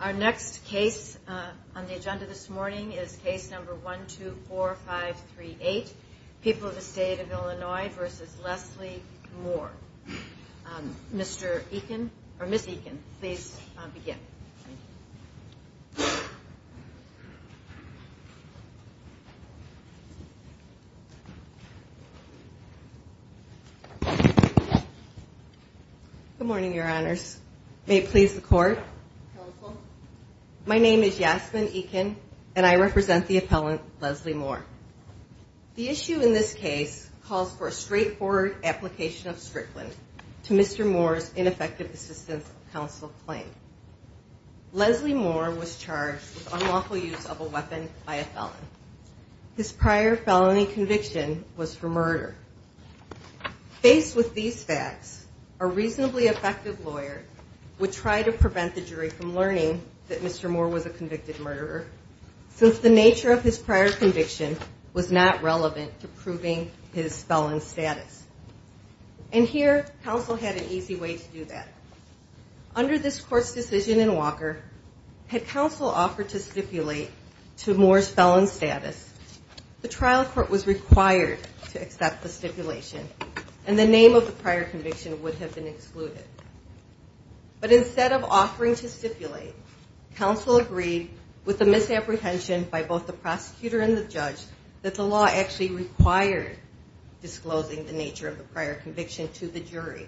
Our next case on the agenda this morning is case number 124538, People of the State of Illinois v. Leslie Moore. Mr. Eakin, or Ms. Eakin, please begin. Good morning, Your Honors. May it please the Court? Counsel. My name is Yasmin Eakin, and I represent the appellant, Leslie Moore. The issue in this case calls for a straightforward application of strickland to Mr. Moore's ineffective assistance of counsel claim. Leslie Moore was charged with unlawful use of a weapon by a felon. His prior felony conviction was for murder. Faced with these facts, a reasonably effective lawyer would try to prevent the jury from learning that Mr. Moore was a convicted murderer. Since the nature of his prior conviction was not relevant to proving his felon status. And here, counsel had an easy way to do that. Under this Court's decision in Walker, had counsel offered to stipulate to Moore's felon status, the trial court was required to accept the stipulation. And the name of the prior conviction would have been excluded. But instead of offering to stipulate, counsel agreed with the misapprehension by both the prosecutor and the judge that the law actually required disclosing the nature of the prior conviction to the jury.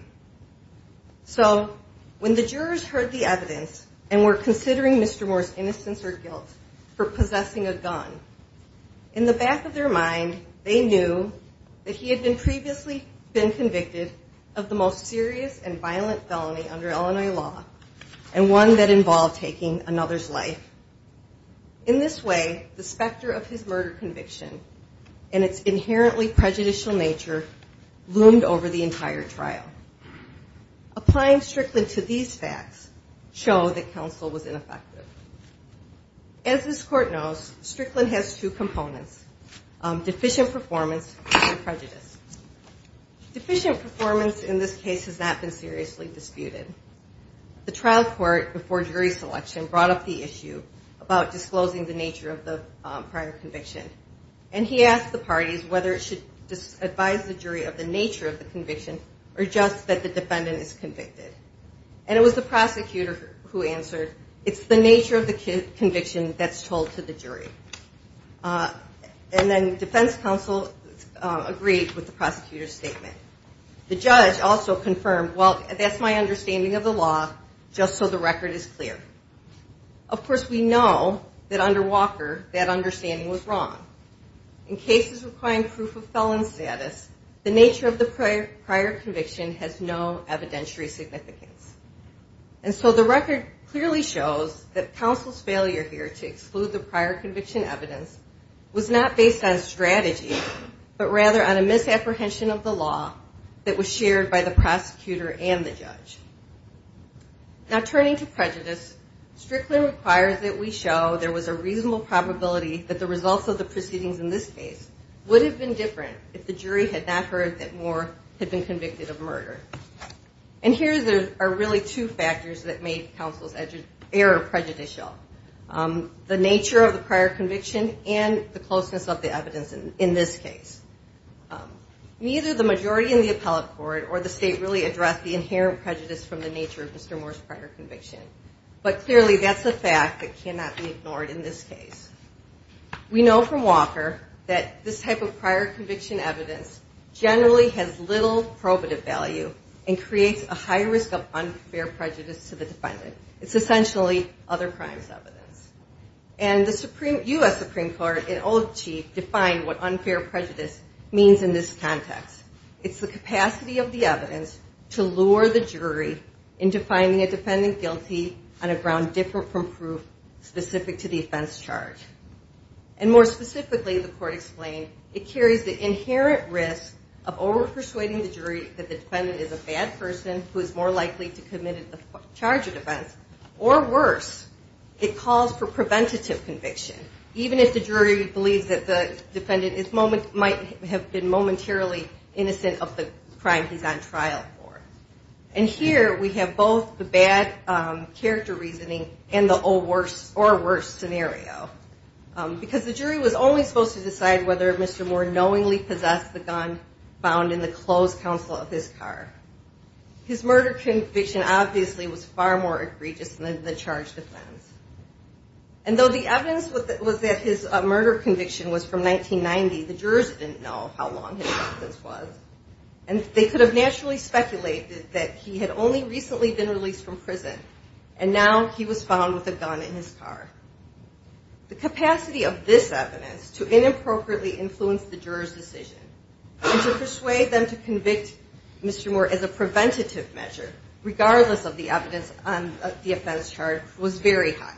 So, when the jurors heard the evidence, and were considering Mr. Moore's innocence or guilt for possessing a gun, in the back of their mind, they knew that he had previously been convicted of the most serious and violent felony under Illinois law. And one that involved taking another's life. In this way, the specter of his murder conviction, and its inherently prejudicial nature, loomed over the entire trial. Applying Strickland to these facts, show that counsel was ineffective. As this Court knows, Strickland has two components. Deficient performance and prejudice. Deficient performance in this case has not been seriously disputed. The trial court, before jury selection, brought up the issue about disclosing the nature of the prior conviction. And he asked the parties whether it should advise the jury of the nature of the conviction, or just that the defendant is convicted. And it was the prosecutor who answered, it's the nature of the conviction that's told to the jury. And then defense counsel agreed with the prosecutor's statement. The judge also confirmed, well, that's my understanding of the law, just so the record is clear. Of course, we know that under Walker, that understanding was wrong. In cases requiring proof of felon status, the nature of the prior conviction has no evidentiary significance. And so the record clearly shows that counsel's failure here to exclude the prior conviction evidence was not based on strategy, but rather on a misapprehension of the law that was shared by the prosecutor and the judge. Now, turning to prejudice, Strickland requires that we show there was a reasonable probability that the results of the proceedings in this case would have been different if the jury had not heard that Moore had been convicted of murder. And here are really two factors that made counsel's error prejudicial. The nature of the prior conviction and the closeness of the evidence in this case. Neither the majority in the appellate court or the state really addressed the inherent prejudice from the nature of Mr. Moore's prior conviction. But clearly, that's a fact that cannot be ignored in this case. We know from Walker that this type of prior conviction evidence generally has little probative value and creates a high risk of unfair prejudice to the defendant. It's essentially other crimes evidence. And the U.S. Supreme Court, in old chief, defined what unfair prejudice means in this context. It's the capacity of the evidence to lure the jury into finding a defendant guilty on a ground different from proof specific to the offense charge. And more specifically, the court explained, it carries the inherent risk of over-persuading the jury that the defendant is a bad person who is more likely to commit a charge of offense. Or worse, it calls for preventative conviction. Even if the jury believes that the defendant might have been momentarily innocent of the crime he's on trial for. And here we have both the bad character reasoning and the or worse scenario. Because the jury was only supposed to decide whether Mr. Moore knowingly possessed the gun found in the closed console of his car. His murder conviction obviously was far more egregious than the charge of offense. And though the evidence was that his murder conviction was from 1990, the jurors didn't know how long his sentence was. And they could have naturally speculated that he had only recently been released from prison. And now he was found with a gun in his car. The capacity of this evidence to inappropriately influence the jurors' decision and to persuade them to convict Mr. Moore as a preventative measure, regardless of the evidence on the offense charge, was very high.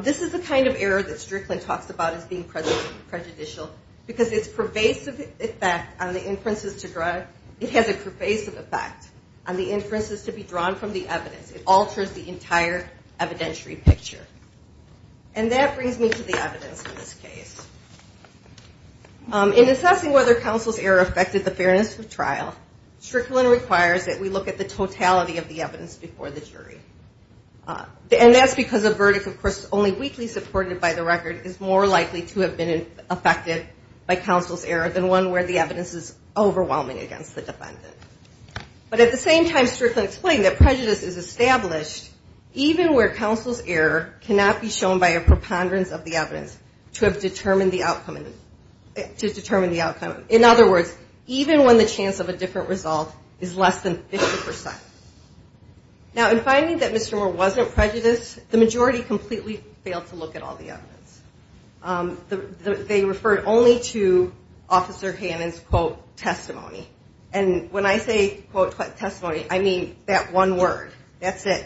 This is the kind of error that Strickland talks about as being prejudicial because it's pervasive effect on the inferences to be drawn from the evidence. It alters the entire evidentiary picture. And that brings me to the evidence in this case. In assessing whether counsel's error affected the fairness of trial, Strickland requires that we look at the totality of the evidence before the jury. And that's because a verdict, of course, only weakly supported by the record is more likely to have been affected by counsel's error than one where the evidence is overwhelming against the defendant. But at the same time, Strickland explained that prejudice is established even where counsel's error cannot be shown by a preponderance of the evidence to have determined the outcome. In other words, even when the chance of a different result is less than 50%. Now, in finding that Mr. Moore wasn't prejudiced, the majority completely failed to look at all the evidence. They referred only to Officer Hannon's, quote, testimony. And when I say, quote, testimony, I mean that one word. That's it.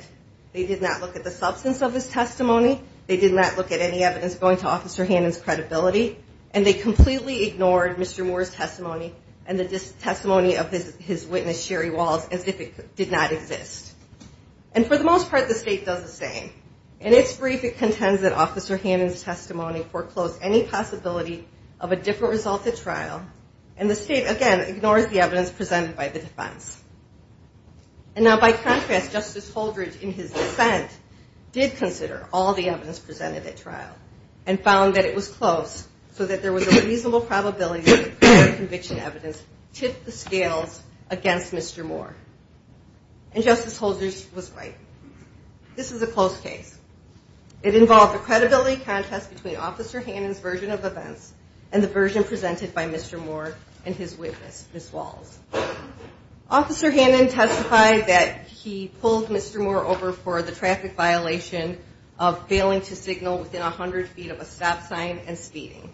They did not look at the substance of his testimony. They did not look at any evidence going to Officer Hannon's credibility. And they completely ignored Mr. Moore's testimony and the testimony of his witness, Sherry Walls, as if it did not exist. And for the most part, the state does the same. In its brief, it contends that Officer Hannon's testimony foreclosed any possibility of a different result at trial. And the state, again, ignores the evidence presented by the defense. And now, by contrast, Justice Holdred, in his dissent, did consider all the evidence presented at trial and found that it was close so that there was a reasonable probability that prior conviction evidence tipped the scales against Mr. Moore. And Justice Holdred was right. This is a close case. It involved a credibility contest between Officer Hannon's version of events and the version presented by Mr. Moore and his witness, Ms. Walls. Officer Hannon testified that he pulled Mr. Moore over for the traffic violation of failing to signal within 100 feet of a stop sign and speeding.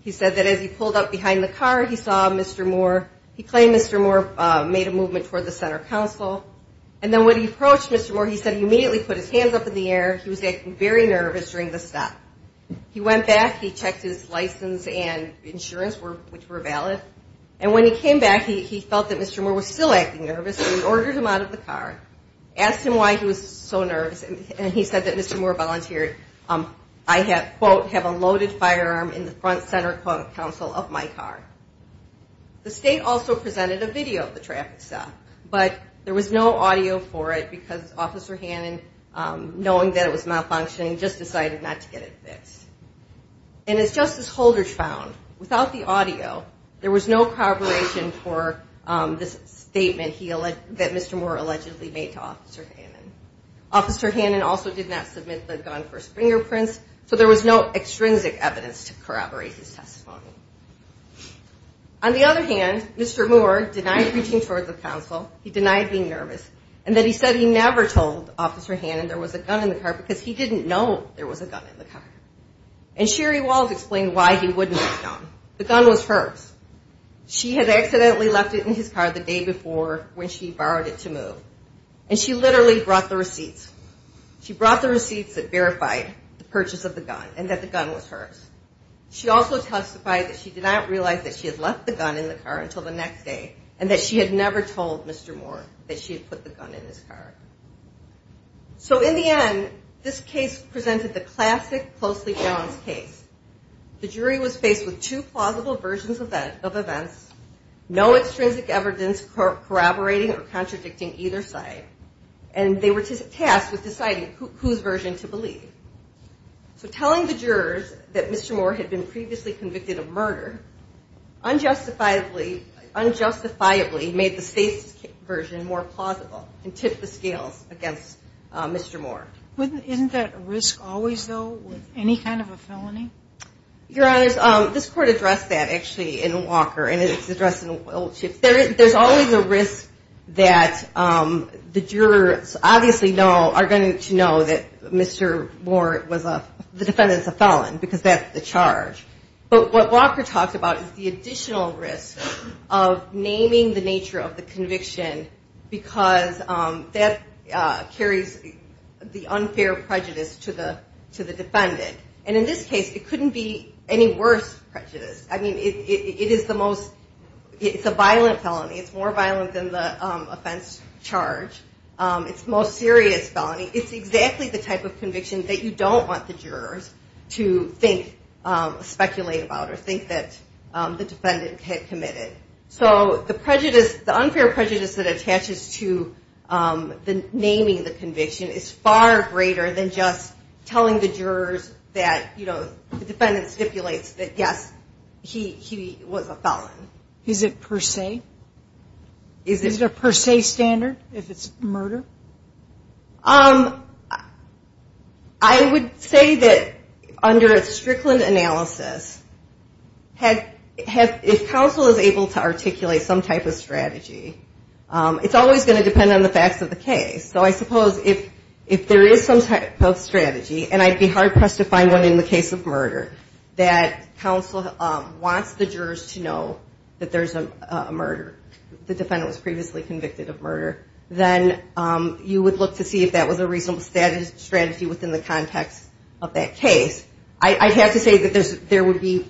He said that as he pulled up behind the car, he saw Mr. Moore. He claimed Mr. Moore made a movement toward the center council. And then when he approached Mr. Moore, he said he immediately put his hands up in the air. He was acting very nervous during the stop. He went back. He checked his license and insurance, which were valid. And when he came back, he felt that Mr. Moore was still acting nervous. So he ordered him out of the car, asked him why he was so nervous, and he said that Mr. Moore volunteered, I quote, have a loaded firearm in the front center council of my car. The state also presented a video of the traffic stop. But there was no audio for it because Officer Hannon, knowing that it was malfunctioning, just decided not to get it fixed. And as Justice Holder found, without the audio, there was no corroboration for this statement that Mr. Moore allegedly made to Officer Hannon. Officer Hannon also did not submit the gun for fingerprints, so there was no extrinsic evidence to corroborate his testimony. On the other hand, Mr. Moore denied reaching towards the council. He denied being nervous. And then he said he never told Officer Hannon there was a gun in the car because he didn't know there was a gun in the car. And Sherry Walls explained why he wouldn't let down. The gun was hers. She had accidentally left it in his car the day before when she borrowed it to move. And she literally brought the receipts. She brought the receipts that verified the purchase of the gun and that the gun was hers. She also testified that she did not realize that she had left the gun in the car until the next day and that she had never told Mr. Moore that she had put the gun in his car. So in the end, this case presented the classic closely balanced case. The jury was faced with two plausible versions of events, no extrinsic evidence corroborating or contradicting either side. And they were tasked with deciding whose version to believe. So telling the jurors that Mr. Moore had been previously convicted of murder unjustifiably made the state's version more plausible and tipped the scales against Mr. Moore. Isn't that a risk always, though, with any kind of a felony? Your Honors, this court addressed that actually in Walker, and it's addressed in Wiltship. There's always a risk that the jurors obviously are going to know that Mr. Moore, the defendant, is a felon because that's the charge. But what Walker talks about is the additional risk of naming the nature of the conviction because that carries the unfair prejudice to the defendant. And in this case, it couldn't be any worse prejudice. I mean, it is the most, it's a violent felony. It's more violent than the offense charge. It's the most serious felony. It's exactly the type of conviction that you don't want the jurors to think, speculate about, or think that the defendant had committed. So the prejudice, the unfair prejudice that attaches to the naming the conviction is far greater than just telling the jurors that, you know, the defendant stipulates that, yes, he was a felon. Is it per se? Is it a per se standard if it's murder? I would say that under a Strickland analysis, if counsel is able to articulate some type of strategy, it's always going to depend on the facts of the case. So I suppose if there is some type of strategy, and I'd be hard-pressed to find one in the case of murder, that counsel wants the jurors to know that there's a murder, the defendant was previously convicted of murder, then you would look to see if that was a reasonable strategy within the context of that case. I have to say that there would be,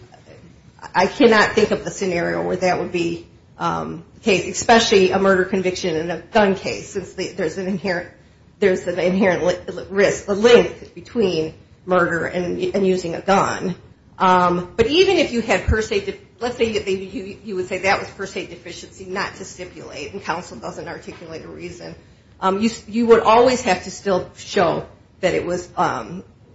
I cannot think of a scenario where that would be the case, especially a murder conviction in a gun case since there's an inherent risk, a link between murder and using a gun. But even if you had per se, let's say you would say that was per se deficiency not to stipulate and counsel doesn't articulate a reason, you would always have to still show that it was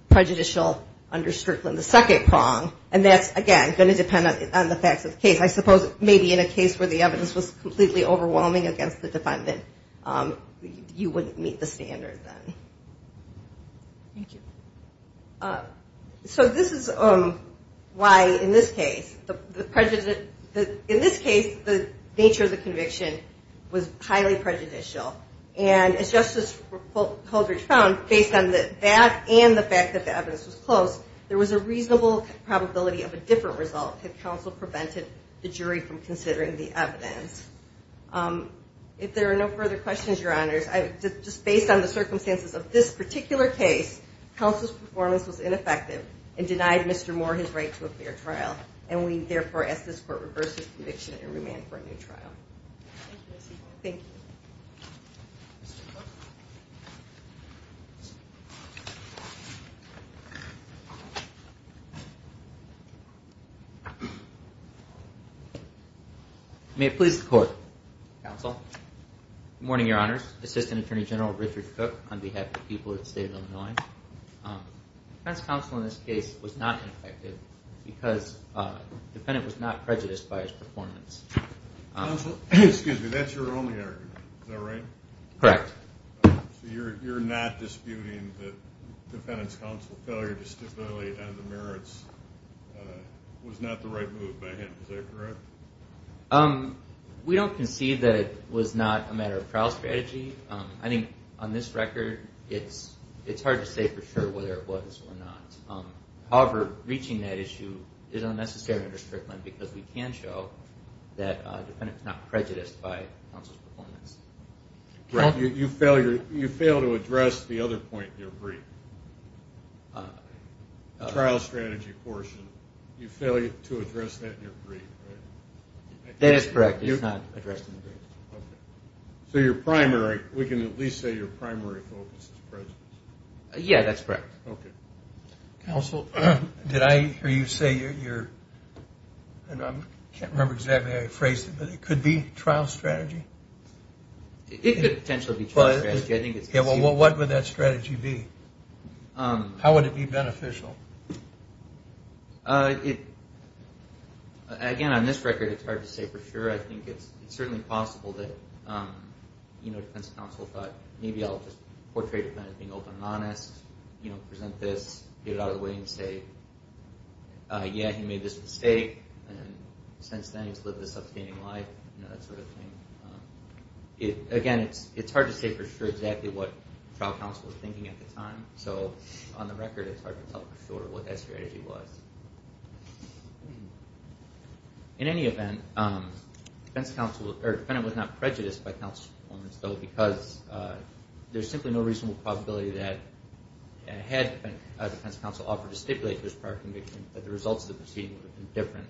prejudicial under Strickland, the second prong, and that's, again, going to depend on the facts of the case. I suppose maybe in a case where the evidence was completely overwhelming against the defendant, you wouldn't meet the standard then. Thank you. So this is why, in this case, the nature of the conviction was highly prejudicial. And as Justice Holdridge found, based on that and the fact that the evidence was close, there was a reasonable probability of a different result if counsel prevented the jury from considering the evidence. If there are no further questions, Your Honors, just based on the circumstances of this particular case, counsel's performance was ineffective and denied Mr. Moore his right to a fair trial, and we therefore ask this Court reverse his conviction and remand for a new trial. Thank you. Thank you. May it please the Court, counsel. Good morning, Your Honors. Assistant Attorney General Richard Cook on behalf of the people of the State of Illinois. Defense counsel in this case was not ineffective because the defendant was not prejudiced by his performance. Counsel, excuse me, that's your only argument. Is that right? Correct. So you're not disputing that defendant's counsel's failure to stimulate on the merits was not the right move by him. Is that correct? We don't concede that it was not a matter of trial strategy. I think on this record it's hard to say for sure whether it was or not. However, reaching that issue is unnecessary under Strickland because we can show that the defendant is not prejudiced by counsel's performance. Correct. You fail to address the other point in your brief, the trial strategy portion. You fail to address that in your brief, right? That is correct. It's not addressed in the brief. Okay. So your primary, we can at least say your primary focus is prejudice. Yeah, that's correct. Okay. Counsel, did I hear you say your, I can't remember exactly how you phrased it, but it could be trial strategy? It could potentially be trial strategy. Well, what would that strategy be? How would it be beneficial? Again, on this record it's hard to say for sure. I think it's certainly possible that defense counsel thought maybe I'll just portray the defendant as being open and honest, present this, get it out of the way and say, yeah, he made this mistake and since then he's lived a sustaining life, that sort of thing. Again, it's hard to say for sure exactly what trial counsel was thinking at the time. So on the record it's hard to tell for sure what that strategy was. In any event, the defendant was not prejudiced by counsel on this though because there's simply no reasonable probability that had defense counsel offered to stipulate this prior conviction that the results of the proceeding would have been different.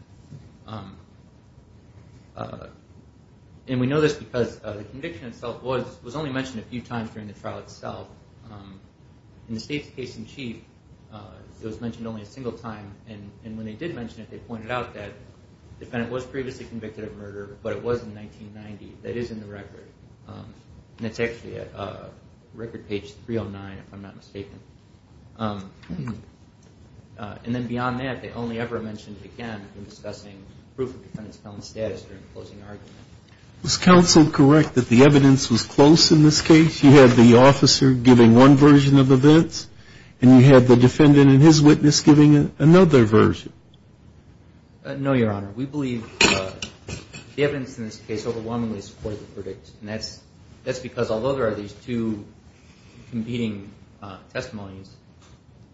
And we know this because the conviction itself was only mentioned a few times during the trial itself. In the state's case in chief, it was mentioned only a single time. And when they did mention it, they pointed out that the defendant was previously convicted of murder, but it was in 1990. That is in the record. And it's actually at record page 309 if I'm not mistaken. And then beyond that, they only ever mentioned it again in discussing proof of defendant's felon status during the closing argument. Was counsel correct that the evidence was close in this case? You had the officer giving one version of events, and you had the defendant and his witness giving another version. No, Your Honor. We believe the evidence in this case overwhelmingly supported the verdict. And that's because although there are these two competing testimonies,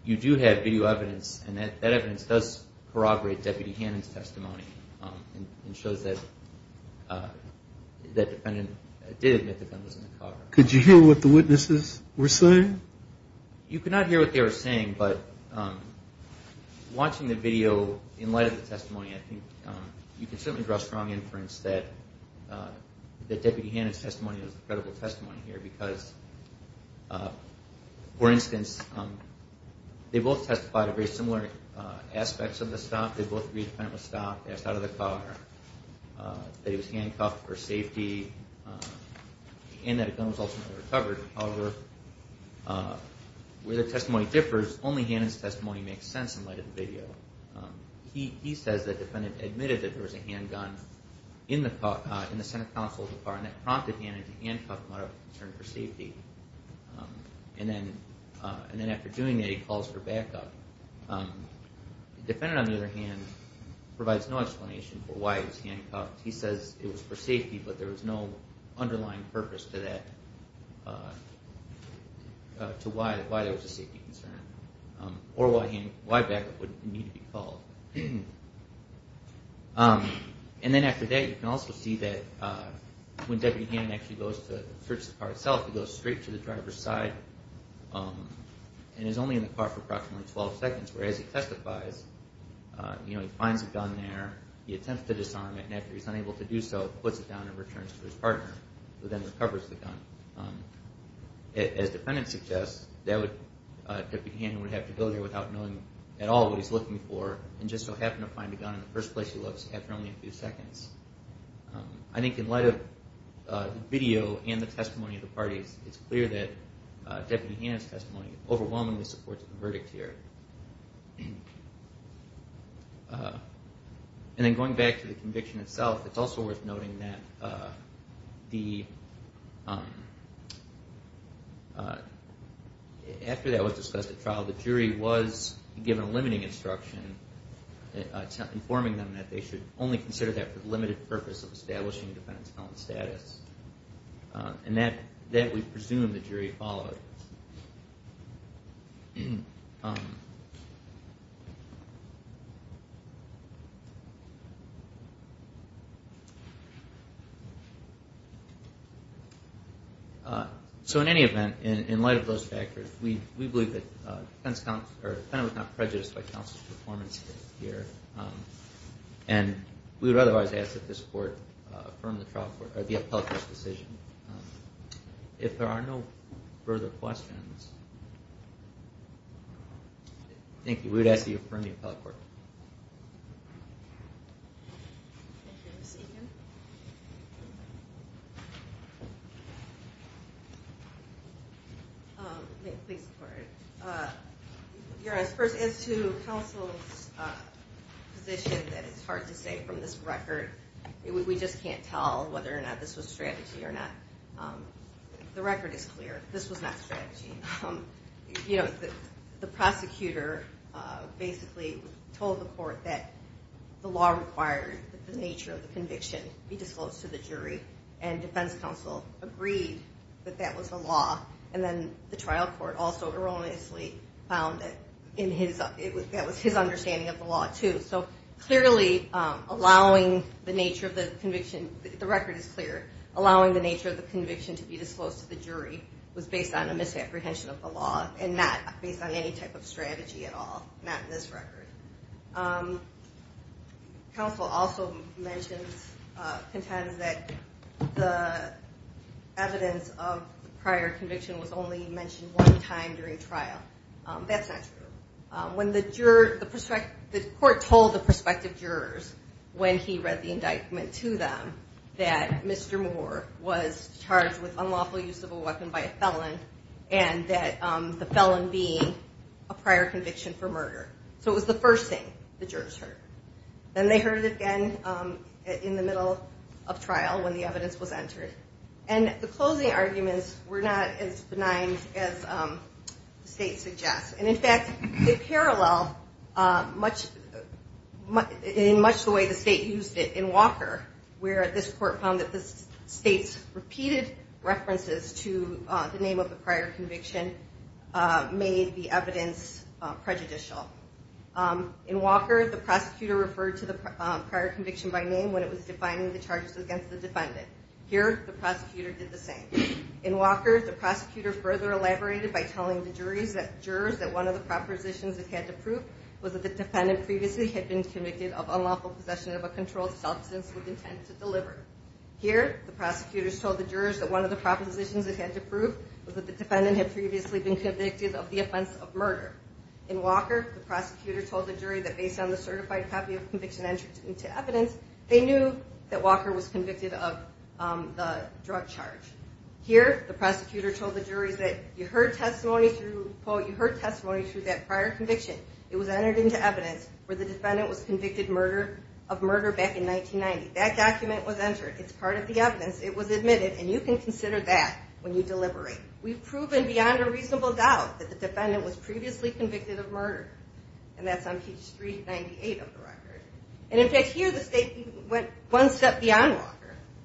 you do have video evidence, and that evidence does corroborate Deputy Hannon's testimony and shows that the defendant did admit to felons in the car. Could you hear what the witnesses were saying? You could not hear what they were saying, but watching the video in light of the testimony, I think you can certainly draw strong inference that Deputy Hannon's testimony was a credible testimony here. Because, for instance, they both testified of very similar aspects of the stop. They both agreed the defendant was stopped, asked out of the car, that he was handcuffed for safety, and that a gun was ultimately recovered. However, where the testimony differs, only Hannon's testimony makes sense in light of the video. He says that the defendant admitted that there was a handgun in the center console of the car, and that prompted Hannon to handcuff him out of concern for safety. And then after doing that, he calls for backup. The defendant, on the other hand, provides no explanation for why he was handcuffed. He says it was for safety, but there was no underlying purpose to that, to why there was a safety concern. Or why backup would need to be called. And then after that, you can also see that when Deputy Hannon actually goes to search the car itself, he goes straight to the driver's side and is only in the car for approximately 12 seconds, whereas he testifies, he finds a gun there, he attempts to disarm it, and after he's unable to do so, puts it down and returns to his partner, who then recovers the gun. As the defendant suggests, Deputy Hannon would have to go there without knowing at all what he's looking for, and just so happened to find a gun in the first place he looks after only a few seconds. I think in light of the video and the testimony of the parties, it's clear that Deputy Hannon's testimony overwhelmingly supports the verdict here. And then going back to the conviction itself, it's also worth noting that after that was discussed at trial, the jury was given a limiting instruction informing them that they should only consider that for the limited purpose of establishing a defendant's felon status, and that we presume the jury followed. So in any event, in light of those factors, we believe that the defendant was not prejudiced by counsel's performance here. And we would otherwise ask that this Court affirm the appellate court's decision. If there are no further questions, thank you. We would ask that you affirm the appellate court. Thank you, Ms. Egan. Please go ahead. Your Honor, first, as to counsel's position, it's hard to say from this record. We just can't tell whether or not this was strategy or not. The prosecutor basically told the court that the law required that the nature of the conviction be disclosed to the jury, and defense counsel agreed that that was the law. And then the trial court also erroneously found that that was his understanding of the law, too. So clearly, allowing the nature of the conviction, the record is clear, allowing the nature of the conviction to be disclosed to the jury was based on a misapprehension of the law and not based on any type of strategy at all, not in this record. Counsel also mentions, contends that the evidence of prior conviction was only mentioned one time during trial. That's not true. The court told the prospective jurors when he read the indictment to them that Mr. Moore was charged with unlawful use of a weapon by a felon and that the felon being a prior conviction for murder. So it was the first thing the jurors heard. Then they heard it again in the middle of trial when the evidence was entered. And the closing arguments were not as benign as the state suggests. And, in fact, they parallel in much the way the state used it in Walker, where this court found that the state's repeated references to the name of the prior conviction made the evidence prejudicial. In Walker, the prosecutor referred to the prior conviction by name when it was defining the charges against the defendant. Here, the prosecutor did the same. In Walker, the prosecutor further elaborated by telling the jurors that one of the propositions it had to prove was that the defendant previously had been convicted of unlawful possession of a controlled substance with intent to deliver. Here, the prosecutors told the jurors that one of the propositions it had to prove was that the defendant had previously been convicted of the offense of murder. In Walker, the prosecutor told the jury that based on the certified copy of conviction entered into evidence, they knew that Walker was convicted of the drug charge. Here, the prosecutor told the jurors that you heard testimony through, quote, you heard testimony through that prior conviction. It was entered into evidence where the defendant was convicted of murder back in 1990. That document was entered. It's part of the evidence. It was admitted. And you can consider that when you deliberate. We've proven beyond a reasonable doubt that the defendant was previously convicted of murder. And that's on page 398 of the record. And, in fact, here the state went one step beyond Walker.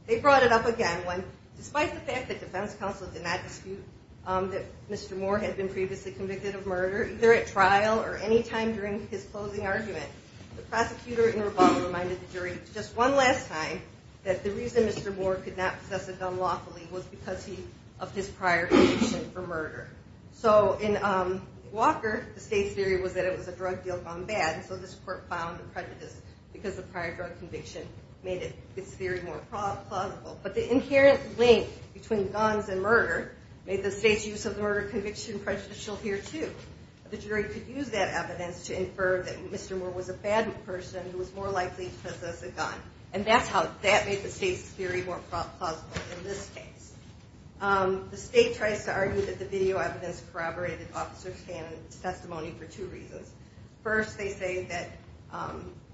They brought it up again when, despite the fact that defense counsel did not dispute that Mr. Moore had been previously convicted of murder, either at trial or any time during his closing argument, the prosecutor in rebuttal reminded the jury just one last time that the reason Mr. Moore could not possess a gun lawfully was because of his prior conviction for murder. So in Walker, the state's theory was that it was a drug deal gone bad, so this court found the prejudice because the prior drug conviction made its theory more plausible. But the inherent link between guns and murder made the state's use of the murder conviction prejudicial here, too. The jury could use that evidence to infer that Mr. Moore was a bad person who was more likely to possess a gun. And that's how that made the state's theory more plausible in this case. The state tries to argue that the video evidence corroborated Officer Shannon's testimony for two reasons. First, they say that,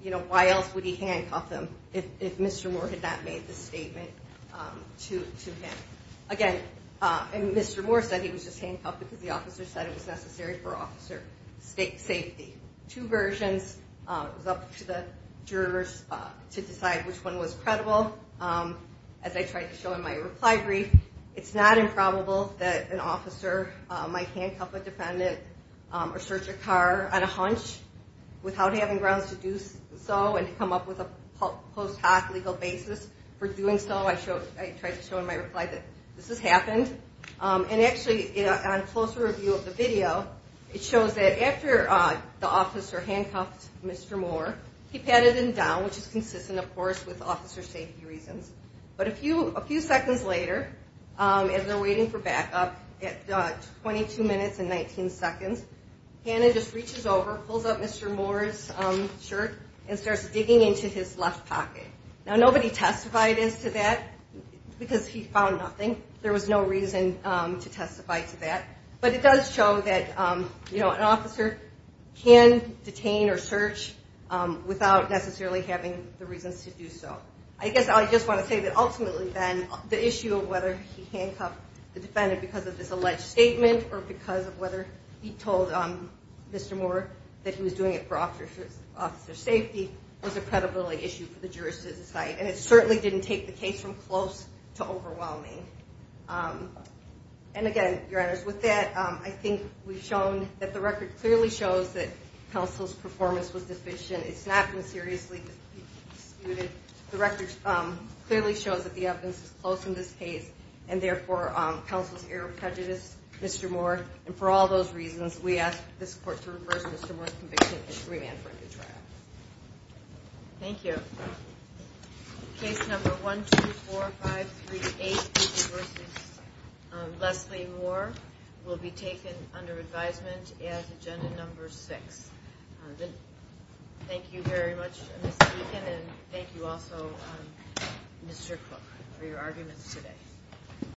you know, why else would he handcuff him if Mr. Moore had not made the statement to him? Again, Mr. Moore said he was just handcuffed because the officer said it was necessary for officer safety. Two versions. It was up to the jurors to decide which one was credible. As I tried to show in my reply brief, it's not improbable that an officer might handcuff a defendant or search a car on a hunch without having grounds to do so and to come up with a post hoc legal basis for doing so. I tried to show in my reply that this has happened. And actually, on a closer review of the video, it shows that after the officer handcuffed Mr. Moore, he patted him down, which is consistent, of course, with officer safety reasons. But a few seconds later, as they're waiting for backup, at 22 minutes and 19 seconds, Hannah just reaches over, pulls up Mr. Moore's shirt, and starts digging into his left pocket. Now, nobody testified as to that because he found nothing. There was no reason to testify to that. But it does show that, you know, an officer can detain or search without necessarily having the reasons to do so. I guess I just want to say that ultimately, then, the issue of whether he handcuffed the defendant because of this alleged statement or because of whether he told Mr. Moore that he was doing it for officer safety was a credibility issue for the jurors to decide. And it certainly didn't take the case from close to overwhelming. And again, Your Honors, with that, I think we've shown that the record clearly shows that counsel's performance was deficient. It's not been seriously disputed. The record clearly shows that the evidence is close in this case, and therefore, counsel's error prejudiced Mr. Moore. And for all those reasons, we ask this Court to reverse Mr. Moore's conviction and to remand for a new trial. Thank you. Case number 124538, Cooper v. Leslie Moore, will be taken under advisement as Agenda Number 6. Thank you very much, Ms. Deacon, and thank you also, Mr. Cook, for your arguments today.